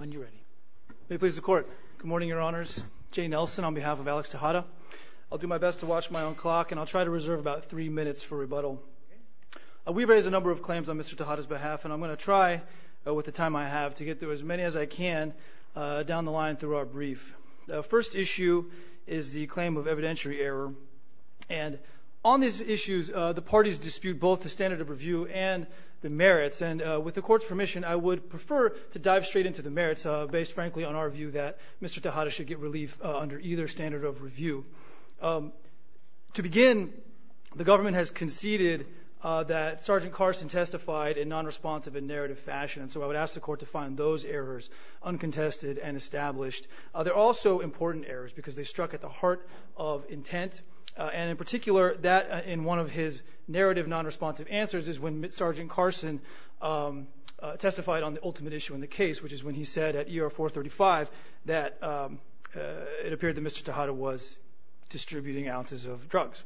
on behalf of Alex Tejeda. I'll do my best to watch my own clock and I'll try to reserve about three minutes for rebuttal. We've raised a number of claims on Mr. Tejeda's behalf and I'm going to try with the time I have to get through as many as I can down the line through our brief. The first issue is the claim of evidentiary error. And on these issues, the parties dispute both the standard of review and the merits. And with the court's permission, I would prefer to dive straight into the merits based, frankly, on our view that Mr. Tejeda should get relief under either standard of review. To begin, the government has conceded that Sergeant Carson testified in nonresponsive and narrative fashion. And so I would ask the court to find those errors uncontested and established. They're also important errors because they struck at the heart of intent. And in particular, that in one of his narrative nonresponsive answers is when Sergeant Carson testified on the ultimate issue in the case, which is when he said at ER 435 that it appeared that Mr. Tejeda was distributing ounces of drugs.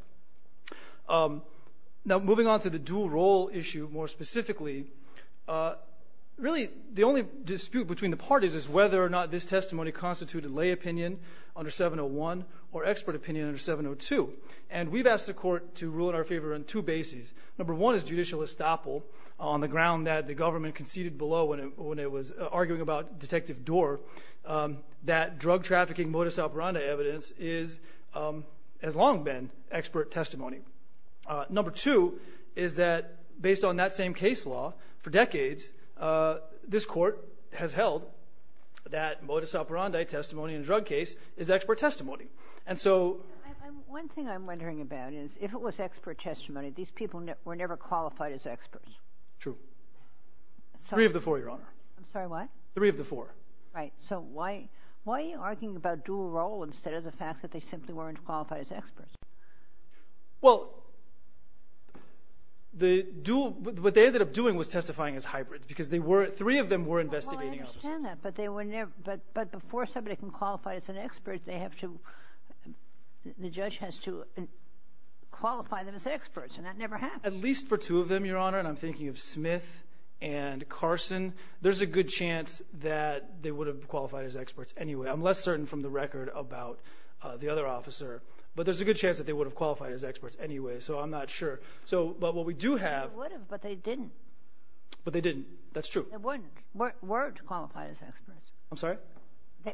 Now, moving on to the dual role issue more specifically, really the only dispute between the parties is whether or not this testimony constituted lay opinion under 701 or expert opinion under 702. And we've asked the court to rule in our favor on two bases. Number one is judicial estoppel on the ground that the government conceded below when it was arguing about Detective Doar that drug trafficking modus operandi evidence has long been expert testimony. Number two is that based on that same case law for decades, this court has held that modus operandi testimony in a drug case is expert testimony. And so one thing I'm wondering about is if it was expert testimony, these people were never qualified as experts. True. Three of the four, Your Honor. I'm sorry, what? Three of the four. Right. So why are you arguing about dual role instead of the fact that they simply weren't qualified as experts? Well, what they ended up doing was testifying as hybrids because three of them were investigating. Well, I understand that, but before somebody can qualify as an expert, the judge has to qualify them as experts, and that never happened. At least for two of them, Your Honor, and I'm thinking of Smith and Carson. There's a good chance that they would have qualified as experts anyway. I'm less certain from the record about the other officer, but there's a good chance that they would have qualified as experts anyway, so I'm not sure. But what we do have. They would have, but they didn't. But they didn't. That's true. They wouldn't. Weren't qualified as experts. I'm sorry?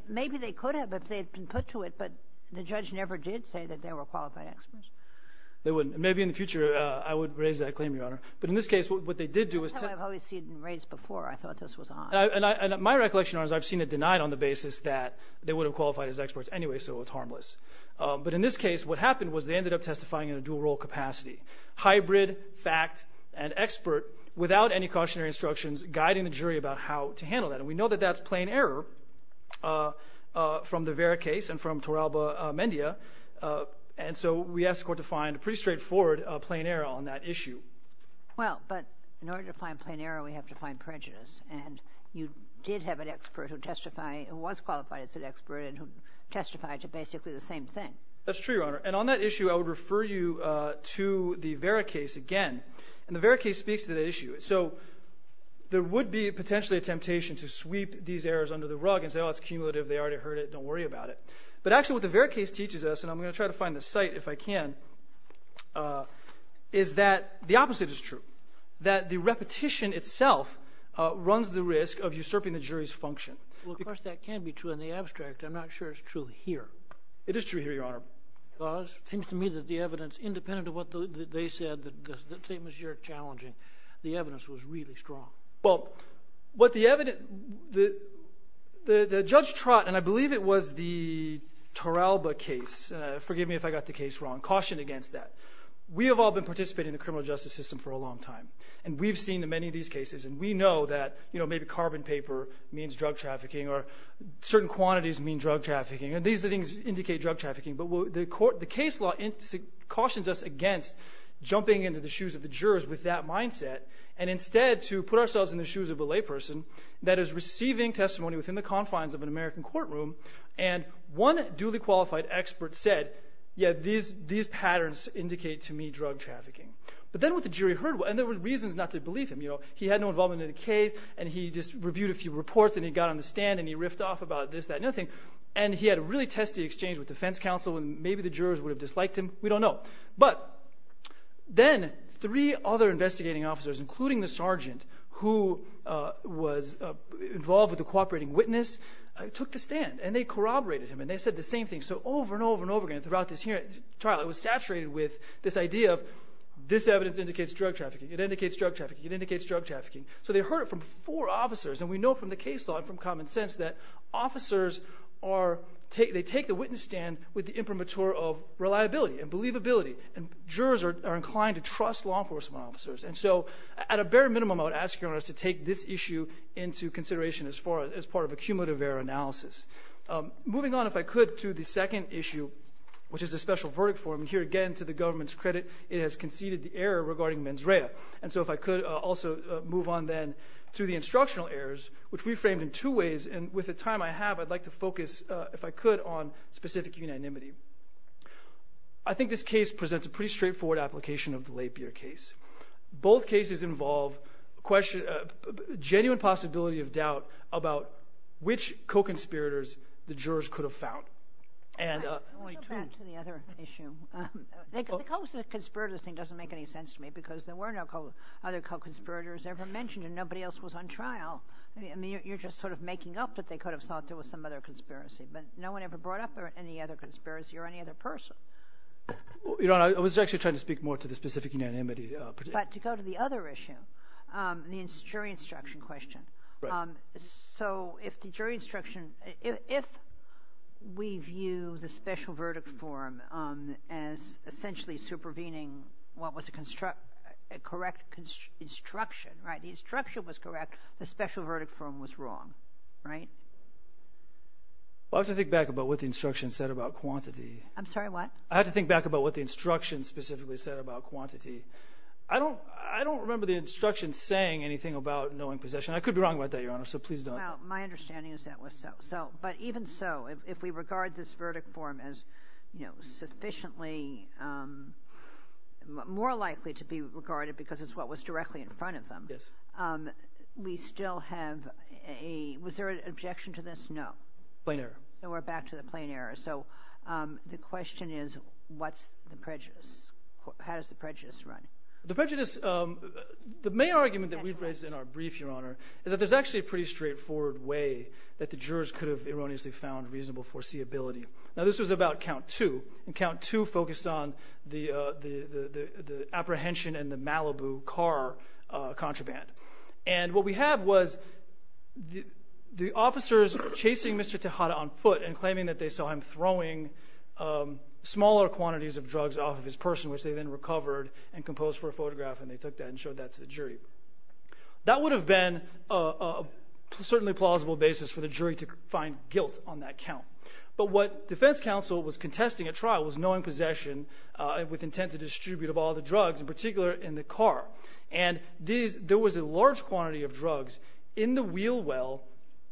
Maybe they could have if they had been put to it, but the judge never did say that they were qualified experts. They wouldn't. Maybe in the future I would raise that claim, Your Honor. But in this case, what they did do was... That's how I've always seen it raised before. I thought this was odd. And my recollection, Your Honor, is I've seen it denied on the basis that they would have qualified as experts anyway, so it's harmless. But in this case, what happened was they ended up testifying in a dual role capacity, hybrid fact and expert, without any cautionary instructions guiding the jury about how to handle that. And we know that that's plain error from the Vera case and from Toralba Mendia, and so we asked the court to find a pretty straightforward plain error on that issue. Well, but in order to find plain error, we have to find prejudice, and you did have an expert who was qualified as an expert and who testified to basically the same thing. That's true, Your Honor. And on that issue, I would refer you to the Vera case again, and the Vera case speaks to that issue. So there would be potentially a temptation to sweep these errors under the rug and say, oh, it's cumulative, they already heard it, don't worry about it. But actually what the Vera case teaches us, and I'm going to try to find the site if I can, is that the opposite is true, that the repetition itself runs the risk of usurping the jury's function. Well, of course that can be true in the abstract. I'm not sure it's true here. It is true here, Your Honor. Because it seems to me that the evidence, independent of what they said, the statements you're challenging, the evidence was really strong. Well, what the evidence, the Judge Trott, and I believe it was the Toralba case, forgive me if I got the case wrong, cautioned against that. We have all been participating in the criminal justice system for a long time, and we've seen many of these cases, and we know that maybe carbon paper means drug trafficking or certain quantities mean drug trafficking, and these things indicate drug trafficking. But the case law cautions us against jumping into the shoes of the jurors with that mindset and instead to put ourselves in the shoes of a layperson that is receiving testimony within the confines of an American courtroom, and one duly qualified expert said, yeah, these patterns indicate to me drug trafficking. But then what the jury heard, and there were reasons not to believe him. He had no involvement in the case, and he just reviewed a few reports, and he got on the stand, and he riffed off about this, that, and the other thing. And he had a really testy exchange with defense counsel, and maybe the jurors would have disliked him. We don't know. But then three other investigating officers, including the sergeant, who was involved with the cooperating witness, took the stand, and they corroborated him, and they said the same thing. So over and over and over again throughout this trial it was saturated with this idea of this evidence indicates drug trafficking. It indicates drug trafficking. It indicates drug trafficking. So they heard it from four officers, and we know from the case law and from common sense that officers are, they take the witness stand with the imprimatur of reliability and believability, and jurors are inclined to trust law enforcement officers. And so at a bare minimum I would ask jurors to take this issue into consideration as part of a cumulative error analysis. Moving on, if I could, to the second issue, which is a special verdict for him. Here again, to the government's credit, it has conceded the error regarding mens rea. And so if I could also move on then to the instructional errors, which we framed in two ways, and with the time I have I'd like to focus, if I could, on specific unanimity. I think this case presents a pretty straightforward application of the Lapeer case. Both cases involve genuine possibility of doubt about which co-conspirators the jurors could have found. Let me go back to the other issue. The co-conspirators thing doesn't make any sense to me because there were no other co-conspirators ever mentioned and nobody else was on trial. I mean, you're just sort of making up that they could have thought there was some other conspiracy. But no one ever brought up any other conspiracy or any other person. Your Honor, I was actually trying to speak more to the specific unanimity. But to go to the other issue, the jury instruction question. Right. So if the jury instruction – if we view the special verdict form as essentially supervening what was a correct instruction, the instruction was correct, the special verdict form was wrong, right? Well, I have to think back about what the instruction said about quantity. I'm sorry, what? I have to think back about what the instruction specifically said about quantity. I don't remember the instruction saying anything about knowing possession. I could be wrong about that, Your Honor, so please don't. Well, my understanding is that was so. But even so, if we regard this verdict form as sufficiently – more likely to be regarded because it's what was directly in front of them. Yes. We still have a – was there an objection to this? No. Plain error. So we're back to the plain error. So the question is what's the prejudice? How does the prejudice run? The prejudice – the main argument that we've raised in our brief, Your Honor, is that there's actually a pretty straightforward way that the jurors could have erroneously found reasonable foreseeability. Now, this was about count two, and count two focused on the apprehension and the Malibu car contraband. And what we have was the officers chasing Mr. Tejada on foot and claiming that they saw him throwing smaller quantities of drugs off of his person, which they then recovered and composed for a photograph, and they took that and showed that to the jury. That would have been a certainly plausible basis for the jury to find guilt on that count. But what defense counsel was contesting at trial was knowing possession with intent to distribute of all the drugs, in particular in the car. And there was a large quantity of drugs in the wheel well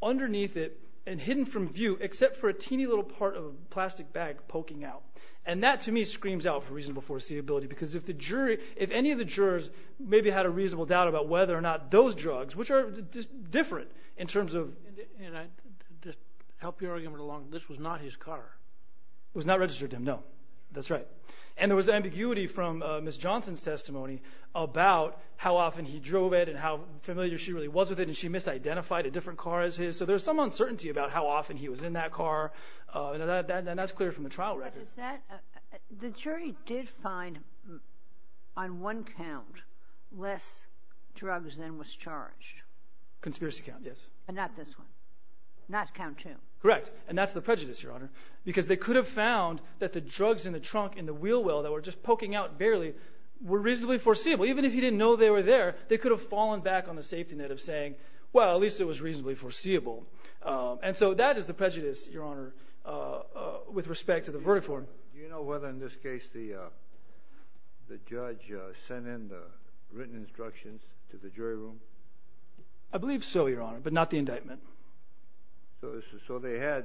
underneath it and hidden from view except for a teeny little part of a plastic bag poking out. And that, to me, screams out for reasonable foreseeability because if the jury – if any of the jurors maybe had a reasonable doubt about whether or not those drugs, which are different in terms of – And I just help you argument along. This was not his car. It was not registered to him, no. That's right. And there was ambiguity from Ms. Johnson's testimony about how often he drove it and how familiar she really was with it, and she misidentified a different car as his. So there's some uncertainty about how often he was in that car, and that's clear from the trial record. The jury did find on one count less drugs than was charged. Conspiracy count, yes. And not this one. Not count two. Correct. And that's the prejudice, Your Honor, because they could have found that the drugs in the trunk in the wheel well that were just poking out barely were reasonably foreseeable. Even if he didn't know they were there, they could have fallen back on the safety net of saying, well, at least it was reasonably foreseeable. And so that is the prejudice, Your Honor, with respect to the verdict form. Do you know whether in this case the judge sent in the written instructions to the jury room? I believe so, Your Honor, but not the indictment. So they had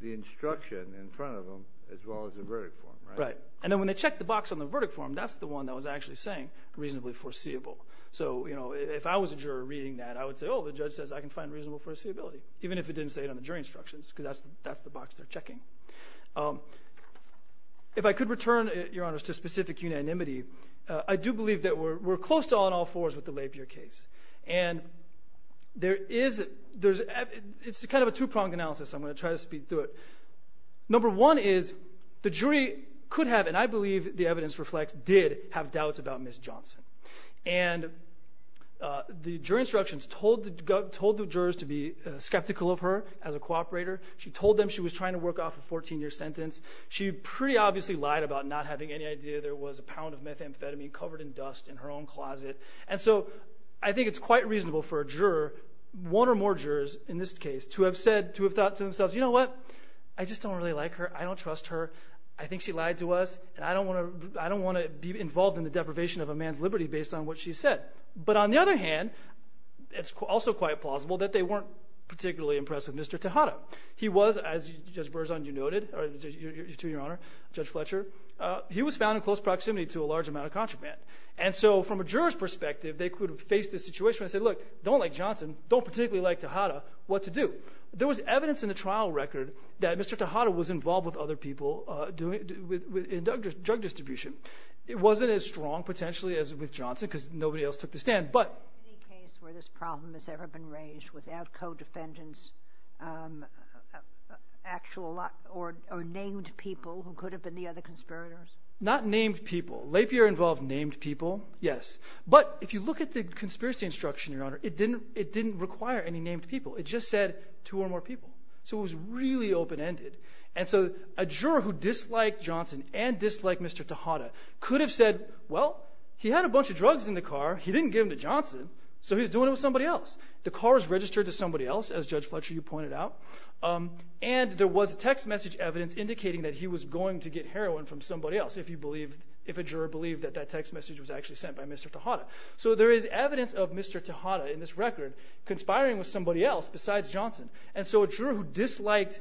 the instruction in front of them as well as the verdict form, right? Right. And then when they checked the box on the verdict form, that's the one that was actually saying reasonably foreseeable. So if I was a juror reading that, I would say, oh, the judge says I can find reasonable foreseeability, even if it didn't say it on the jury instructions because that's the box they're checking. If I could return, Your Honor, to specific unanimity, I do believe that we're close to all-in-all-fours with the Lapierre case. And it's kind of a two-pronged analysis, so I'm going to try to speed through it. Number one is the jury could have, and I believe the evidence reflects, did have doubts about Ms. Johnson. And the jury instructions told the jurors to be skeptical of her as a cooperator. She told them she was trying to work off a 14-year sentence. She pretty obviously lied about not having any idea there was a pound of methamphetamine covered in dust in her own closet. And so I think it's quite reasonable for a juror, one or more jurors in this case, to have said, to have thought to themselves, you know what, I just don't really like her, I don't trust her, I think she lied to us, and I don't want to be involved in the deprivation of a man's liberty based on what she said. But on the other hand, it's also quite plausible that they weren't particularly impressed with Mr. Tejada. He was, as Judge Berzon, you noted, or to your Honor, Judge Fletcher, he was found in close proximity to a large amount of contraband. And so from a juror's perspective, they could have faced this situation and said, look, don't like Johnson, don't particularly like Tejada, what to do? There was evidence in the trial record that Mr. Tejada was involved with other people in drug distribution. It wasn't as strong, potentially, as with Johnson because nobody else took the stand, but. Any case where this problem has ever been raised without co-defendants, actual or named people who could have been the other conspirators? Not named people. Lapierre involved named people, yes. But if you look at the conspiracy instruction, Your Honor, it didn't require any named people. It just said two or more people. So it was really open-ended. And so a juror who disliked Johnson and disliked Mr. Tejada could have said, well, he had a bunch of drugs in the car. He didn't give them to Johnson, so he's doing it with somebody else. The car was registered to somebody else, as Judge Fletcher, you pointed out. And there was text message evidence indicating that he was going to get heroin from somebody else if a juror believed that that text message was actually sent by Mr. Tejada. So there is evidence of Mr. Tejada in this record conspiring with somebody else besides Johnson. And so a juror who disliked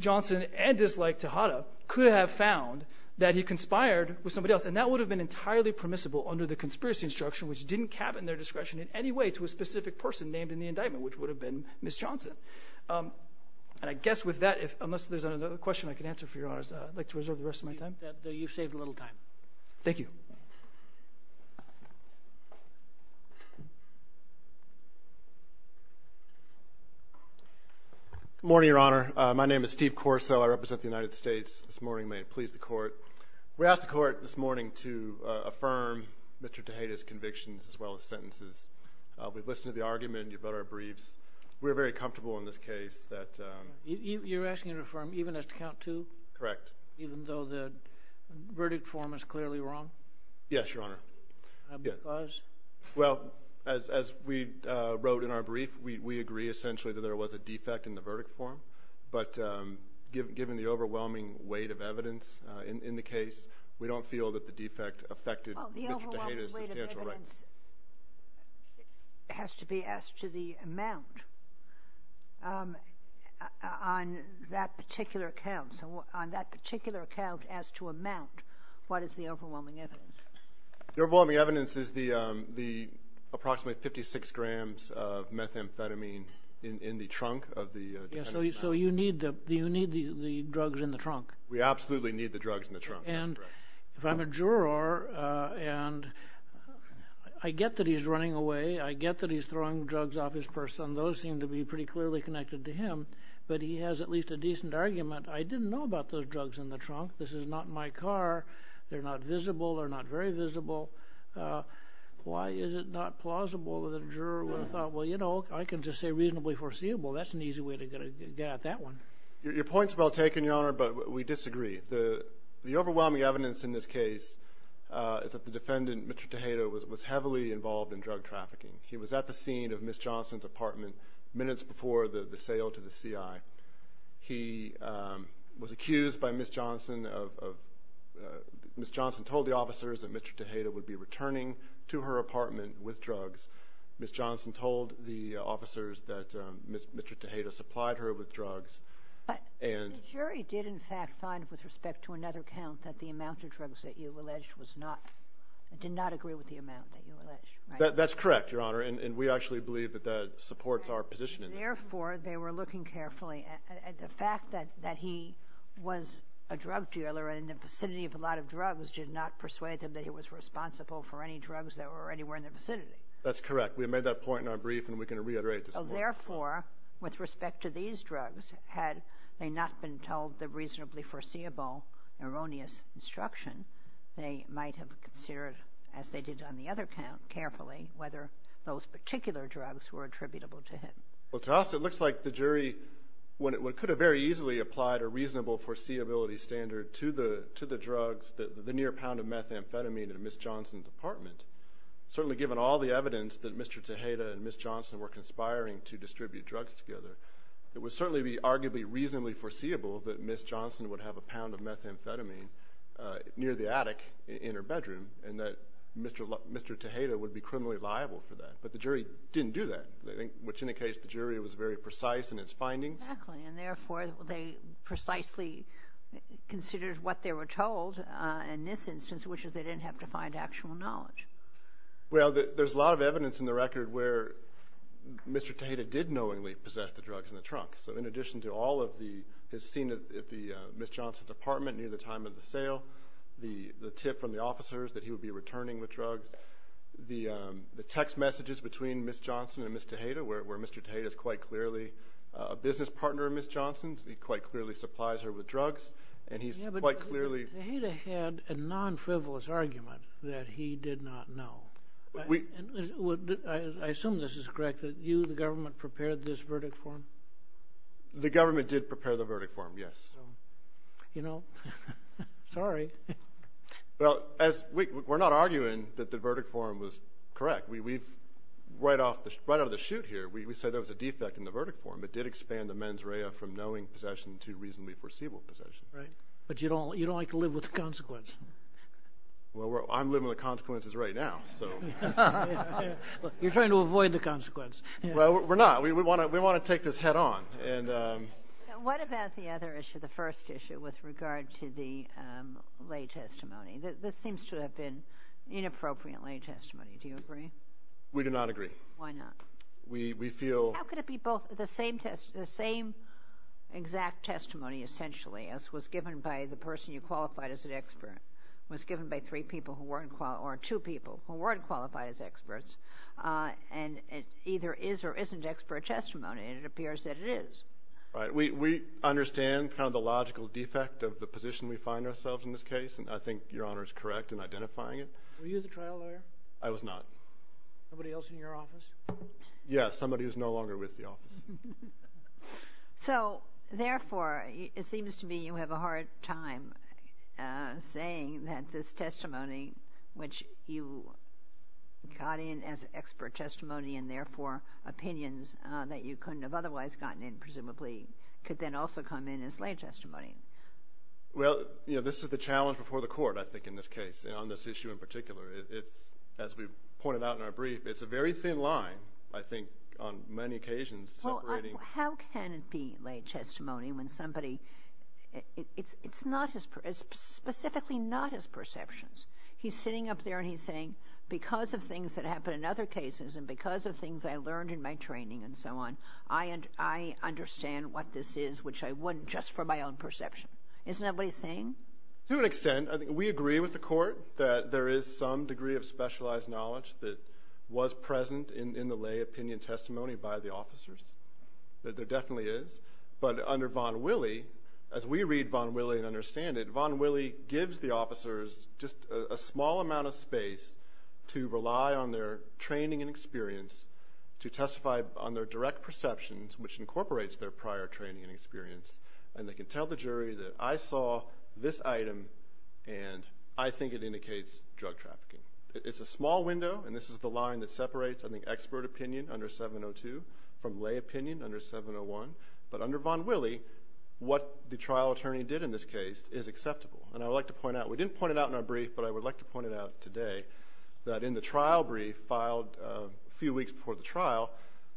Johnson and disliked Tejada could have found that he conspired with somebody else. And that would have been entirely permissible under the conspiracy instruction, which didn't cabin their discretion in any way to a specific person named in the indictment, which would have been Ms. Johnson. And I guess with that, unless there's another question I can answer for Your Honor, I'd like to reserve the rest of my time. You've saved a little time. Thank you. Good morning, Your Honor. My name is Steve Corso. I represent the United States this morning. May it please the Court. We asked the Court this morning to affirm Mr. Tejada's convictions as well as sentences. We've listened to the argument. You've read our briefs. We're very comfortable in this case that – You're asking to affirm even as to count to? Correct. Even though the verdict form is clearly wrong? Yes, Your Honor. Because? Well, as we wrote in our brief, we agree essentially that there was a defect in the verdict form. But given the overwhelming weight of evidence in the case, we don't feel that the defect affected Mr. Tejada's substantial rights. This has to be asked to the amount on that particular account. So on that particular account as to amount, what is the overwhelming evidence? The overwhelming evidence is the approximately 56 grams of methamphetamine in the trunk of the defendant's mouth. So you need the drugs in the trunk? We absolutely need the drugs in the trunk. If I'm a juror and I get that he's running away, I get that he's throwing drugs off his purse, and those seem to be pretty clearly connected to him, but he has at least a decent argument. I didn't know about those drugs in the trunk. This is not my car. They're not visible. They're not very visible. Why is it not plausible that a juror would have thought, well, you know, I can just say reasonably foreseeable. That's an easy way to get at that one. Your point's well taken, Your Honor, but we disagree. The overwhelming evidence in this case is that the defendant, Mr. Tejeda, was heavily involved in drug trafficking. He was at the scene of Ms. Johnson's apartment minutes before the sale to the CI. He was accused by Ms. Johnson of Ms. Johnson told the officers that Mr. Tejeda would be returning to her apartment with drugs. Ms. Johnson told the officers that Mr. Tejeda supplied her with drugs. But the jury did, in fact, find with respect to another count that the amount of drugs that you alleged was not, did not agree with the amount that you alleged, right? That's correct, Your Honor, and we actually believe that that supports our position in this case. Therefore, they were looking carefully at the fact that he was a drug dealer in the vicinity of a lot of drugs did not persuade them that he was responsible for any drugs that were anywhere in the vicinity. That's correct. We made that point in our brief, and we can reiterate this point. Therefore, with respect to these drugs, had they not been told the reasonably foreseeable erroneous instruction, they might have considered, as they did on the other count carefully, whether those particular drugs were attributable to him. Well, to us, it looks like the jury, when it could have very easily applied a reasonable foreseeability standard to the drugs, the near pound of methamphetamine in Ms. Johnson's apartment, certainly given all the evidence that Mr. Tejeda and Ms. Johnson were conspiring to distribute drugs together, it would certainly be arguably reasonably foreseeable that Ms. Johnson would have a pound of methamphetamine near the attic in her bedroom and that Mr. Tejeda would be criminally liable for that. But the jury didn't do that, which indicates the jury was very precise in its findings. Exactly. And therefore, they precisely considered what they were told in this instance, which is they didn't have to find actual knowledge. Well, there's a lot of evidence in the record where Mr. Tejeda did knowingly possess the drugs in the trunk. So in addition to all of his scene at Ms. Johnson's apartment near the time of the sale, the tip from the officers that he would be returning the drugs, the text messages between Ms. Johnson and Ms. Tejeda, where Mr. Tejeda is quite clearly a business partner of Ms. Johnson's, he quite clearly supplies her with drugs, and he's quite clearly Tejeda had a non-frivolous argument that he did not know. I assume this is correct that you, the government, prepared this verdict for him? The government did prepare the verdict for him, yes. You know, sorry. Well, we're not arguing that the verdict for him was correct. Right out of the shoot here, we said there was a defect in the verdict for him. It did expand the mens rea from knowing possession to reasonably foreseeable possession. Right. But you don't like to live with the consequence. Well, I'm living with the consequences right now. You're trying to avoid the consequence. Well, we're not. We want to take this head on. What about the other issue, the first issue, with regard to the lay testimony? This seems to have been inappropriate lay testimony. Do you agree? We do not agree. Why not? We feel— How could it be both the same exact testimony, essentially, as was given by the person you qualified as an expert, was given by three people who weren't—or two people who weren't qualified as experts, and it either is or isn't expert testimony, and it appears that it is. Right. We understand kind of the logical defect of the position we find ourselves in this case, and I think Your Honor is correct in identifying it. Were you the trial lawyer? I was not. Nobody else in your office? Yes, somebody who's no longer with the office. So, therefore, it seems to me you have a hard time saying that this testimony, which you got in as expert testimony and, therefore, opinions that you couldn't have otherwise gotten in, presumably, could then also come in as lay testimony. Well, you know, this is the challenge before the Court, I think, in this case, on this issue in particular. As we pointed out in our brief, it's a very thin line, I think, on many occasions. Well, how can it be lay testimony when somebody—it's not his—it's specifically not his perceptions. He's sitting up there and he's saying, because of things that happened in other cases and because of things I learned in my training and so on, I understand what this is, which I wouldn't just from my own perception. Isn't that what he's saying? To an extent. We agree with the Court that there is some degree of specialized knowledge that was present in the lay opinion testimony by the officers, that there definitely is. But under Von Wille, as we read Von Wille and understand it, Von Wille gives the officers just a small amount of space to rely on their training and experience to testify on their direct perceptions, which incorporates their prior training and experience, and they can tell the jury that I saw this item and I think it indicates drug trafficking. It's a small window, and this is the line that separates, I think, expert opinion under 702 from lay opinion under 701. But under Von Wille, what the trial attorney did in this case is acceptable. And I would like to point out—we didn't point it out in our brief, but I would like to point it out today— that in the trial brief filed a few weeks before the trial,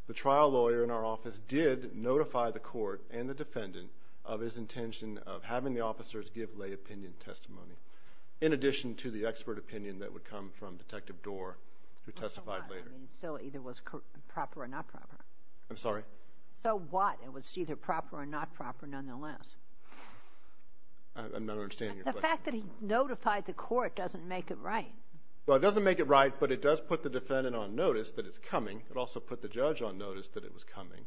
the trial lawyer in our office did notify the Court and the defendant of his intention of having the officers give lay opinion testimony, in addition to the expert opinion that would come from Detective Doar, who testified later. So what? I mean, it still either was proper or not proper. I'm sorry? So what? It was either proper or not proper nonetheless. I'm not understanding your question. The fact that he notified the Court doesn't make it right. Well, it doesn't make it right, but it does put the defendant on notice that it's coming. It also put the judge on notice that it was coming.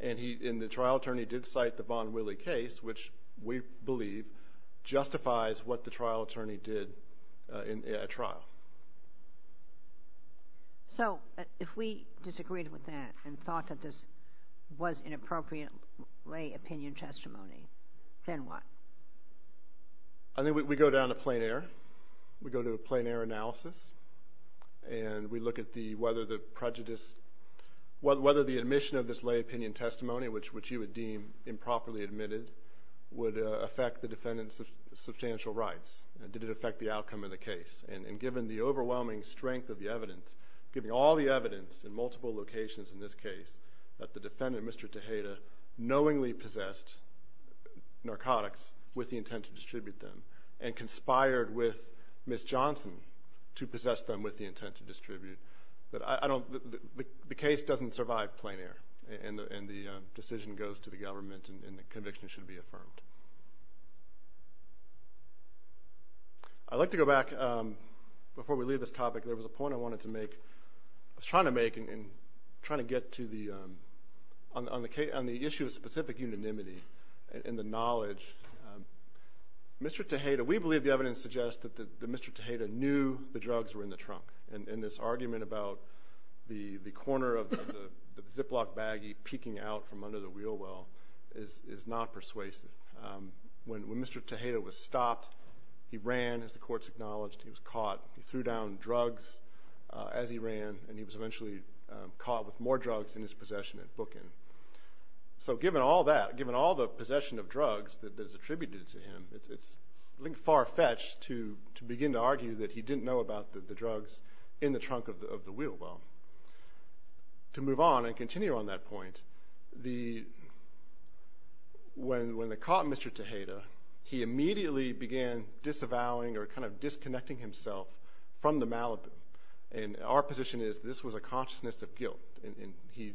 And the trial attorney did cite the Von Wille case, which we believe justifies what the trial attorney did at trial. So if we disagreed with that and thought that this was inappropriate lay opinion testimony, then what? I think we go down to plain error. We go to a plain error analysis, and we look at whether the admission of this lay opinion testimony, which you would deem improperly admitted, would affect the defendant's substantial rights. Did it affect the outcome of the case? And given the overwhelming strength of the evidence, given all the evidence in multiple locations in this case that the defendant, Mr. Tejeda, knowingly possessed narcotics with the intent to distribute them and conspired with Ms. Johnson to possess them with the intent to distribute, the case doesn't survive plain error, and the decision goes to the government, and the conviction should be affirmed. I'd like to go back. Before we leave this topic, there was a point I wanted to make. I was trying to make and trying to get to the issue of specific unanimity and the knowledge. Mr. Tejeda, we believe the evidence suggests that Mr. Tejeda knew the drugs were in the trunk, and this argument about the corner of the Ziploc baggie peeking out from under the wheel well is not persuasive. When Mr. Tejeda was stopped, he ran, as the courts acknowledged. He was caught. He threw down drugs as he ran, and he was eventually caught with more drugs in his possession at Bookin. So given all that, given all the possession of drugs that is attributed to him, it's far-fetched to begin to argue that he didn't know about the drugs in the trunk of the wheel well. To move on and continue on that point, when they caught Mr. Tejeda, he immediately began disavowing or kind of disconnecting himself from the Malibu, and our position is this was a consciousness of guilt, and he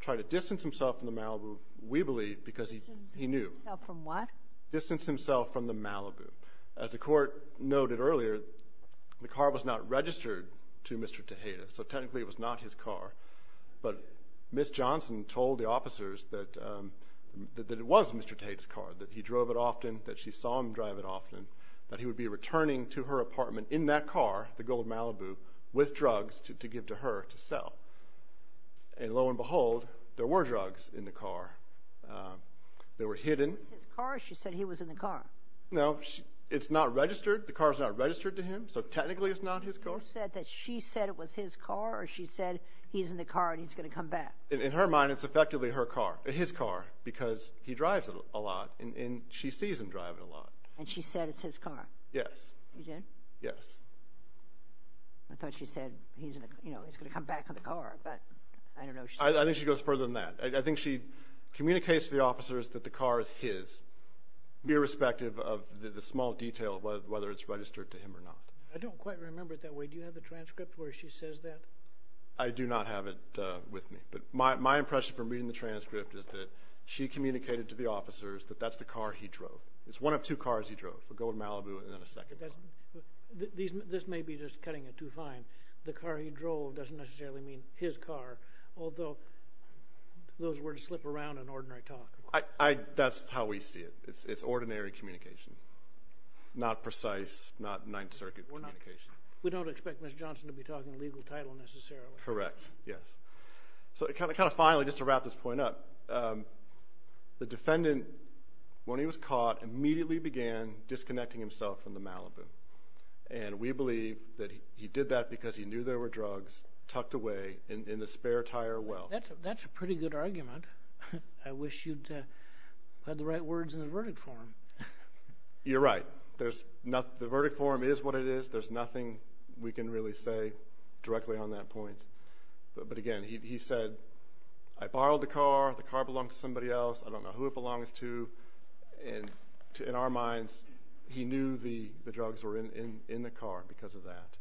tried to distance himself from the Malibu, we believe, because he knew. Distance himself from what? Distance himself from the Malibu. As the court noted earlier, the car was not registered to Mr. Tejeda, so technically it was not his car, but Ms. Johnson told the officers that it was Mr. Tejeda's car, that he drove it often, that she saw him drive it often, that he would be returning to her apartment in that car, the gold Malibu, with drugs to give to her to sell. And lo and behold, there were drugs in the car. They were hidden. Was it his car, or she said he was in the car? No, it's not registered. The car's not registered to him, so technically it's not his car. You said that she said it was his car, or she said he's in the car and he's going to come back? In her mind, it's effectively her car, his car, because he drives it a lot and she sees him drive it a lot. And she said it's his car? Yes. She did? Yes. I thought she said he's going to come back in the car, but I don't know. I think she goes further than that. I think she communicates to the officers that the car is his, irrespective of the small detail of whether it's registered to him or not. I don't quite remember it that way. Do you have the transcript where she says that? I do not have it with me. But my impression from reading the transcript is that she communicated to the officers that that's the car he drove. It's one of two cars he drove, a gold Malibu and then a second car. This may be just cutting it too fine. The car he drove doesn't necessarily mean his car, although those words slip around in ordinary talk. That's how we see it. It's ordinary communication, not precise, not Ninth Circuit communication. We don't expect Mr. Johnson to be talking a legal title necessarily. Correct, yes. So kind of finally, just to wrap this point up, the defendant, when he was caught, immediately began disconnecting himself from the Malibu. And we believe that he did that because he knew there were drugs tucked away in the spare tire well. That's a pretty good argument. I wish you'd had the right words in the verdict form. You're right. The verdict form is what it is. There's nothing we can really say directly on that point. But again, he said, I borrowed the car. The car belongs to somebody else. I don't know who it belongs to. And in our minds, he knew the drugs were in the car because of that.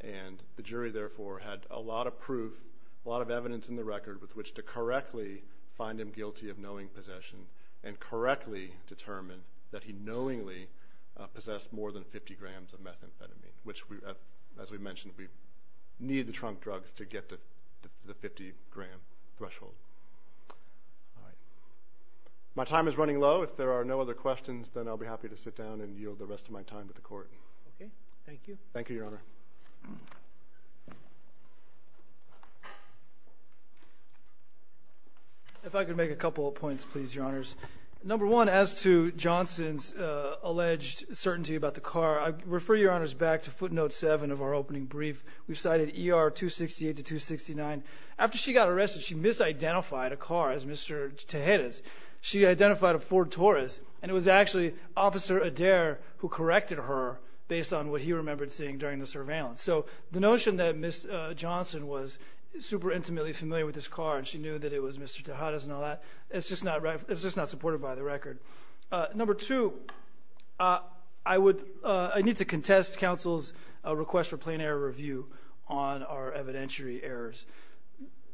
And the jury, therefore, had a lot of proof, a lot of evidence in the record, with which to correctly find him guilty of knowing possession and correctly determine that he knowingly possessed more than 50 grams of methamphetamine, which, as we mentioned, we need the trunk drugs to get to the 50-gram threshold. All right. My time is running low. If there are no other questions, then I'll be happy to sit down and yield the rest of my time to the court. Okay. Thank you. Thank you, Your Honor. If I could make a couple of points, please, Your Honors. Number one, as to Johnson's alleged certainty about the car, I refer Your Honors back to footnote 7 of our opening brief. We've cited ER 268 to 269. After she got arrested, she misidentified a car as Mr. Tejeda's. She identified a Ford Taurus, and it was actually Officer Adair who corrected her based on what he remembered seeing during the surveillance. So the notion that Ms. Johnson was super intimately familiar with this car and she knew that it was Mr. Tejeda's and all that, it's just not supported by the record. Number two, I need to contest counsel's request for plain error review on our evidentiary errors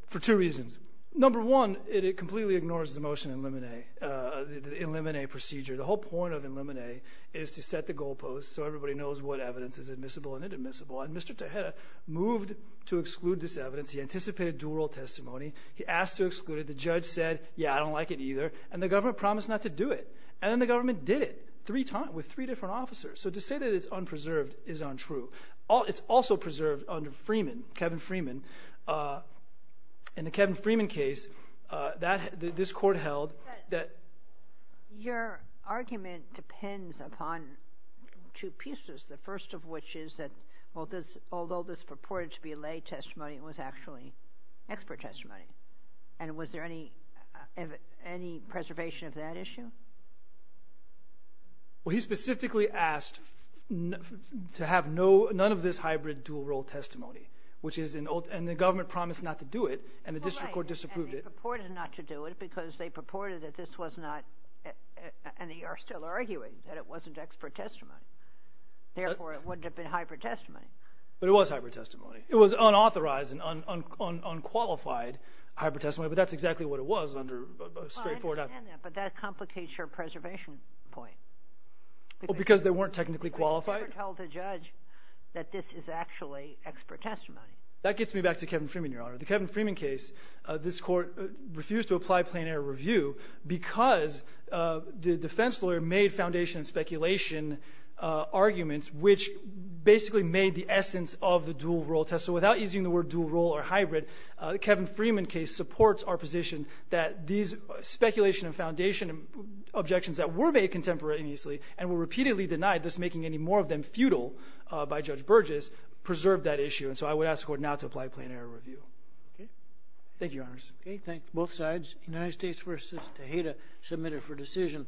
for two reasons. Number one, it completely ignores the motion in limine procedure. The whole point of in limine is to set the goalposts so everybody knows what evidence is admissible and inadmissible, and Mr. Tejeda moved to exclude this evidence. He anticipated dual-role testimony. He asked to exclude it. The judge said, yeah, I don't like it either, and the government promised not to do it. And then the government did it three times with three different officers. So to say that it's unpreserved is untrue. It's also preserved under Freeman, Kevin Freeman. In the Kevin Freeman case, this court held that— Your argument depends upon two pieces, the first of which is that, although this purported to be lay testimony, it was actually expert testimony. And was there any preservation of that issue? Well, he specifically asked to have none of this hybrid dual-role testimony, and the government promised not to do it, and the district court disapproved it. And they purported not to do it because they purported that this was not— and they are still arguing that it wasn't expert testimony. Therefore, it wouldn't have been hybrid testimony. But it was hybrid testimony. It was unauthorized and unqualified hybrid testimony, but that's exactly what it was under a straightforward— I understand that, but that complicates your preservation point. Because they weren't technically qualified? They were told to judge that this is actually expert testimony. That gets me back to Kevin Freeman, Your Honor. The Kevin Freeman case, this court refused to apply plain-error review because the defense lawyer made foundation speculation arguments, which basically made the essence of the dual-role test. So without using the word dual-role or hybrid, the Kevin Freeman case supports our position that these speculation and foundation objections that were made contemporaneously and were repeatedly denied, thus making any more of them futile by Judge Burgess, preserved that issue. And so I would ask the court now to apply plain-error review. Okay. Thank you, Your Honors. Okay, thank both sides. United States v. Tejeda, submitted for decision.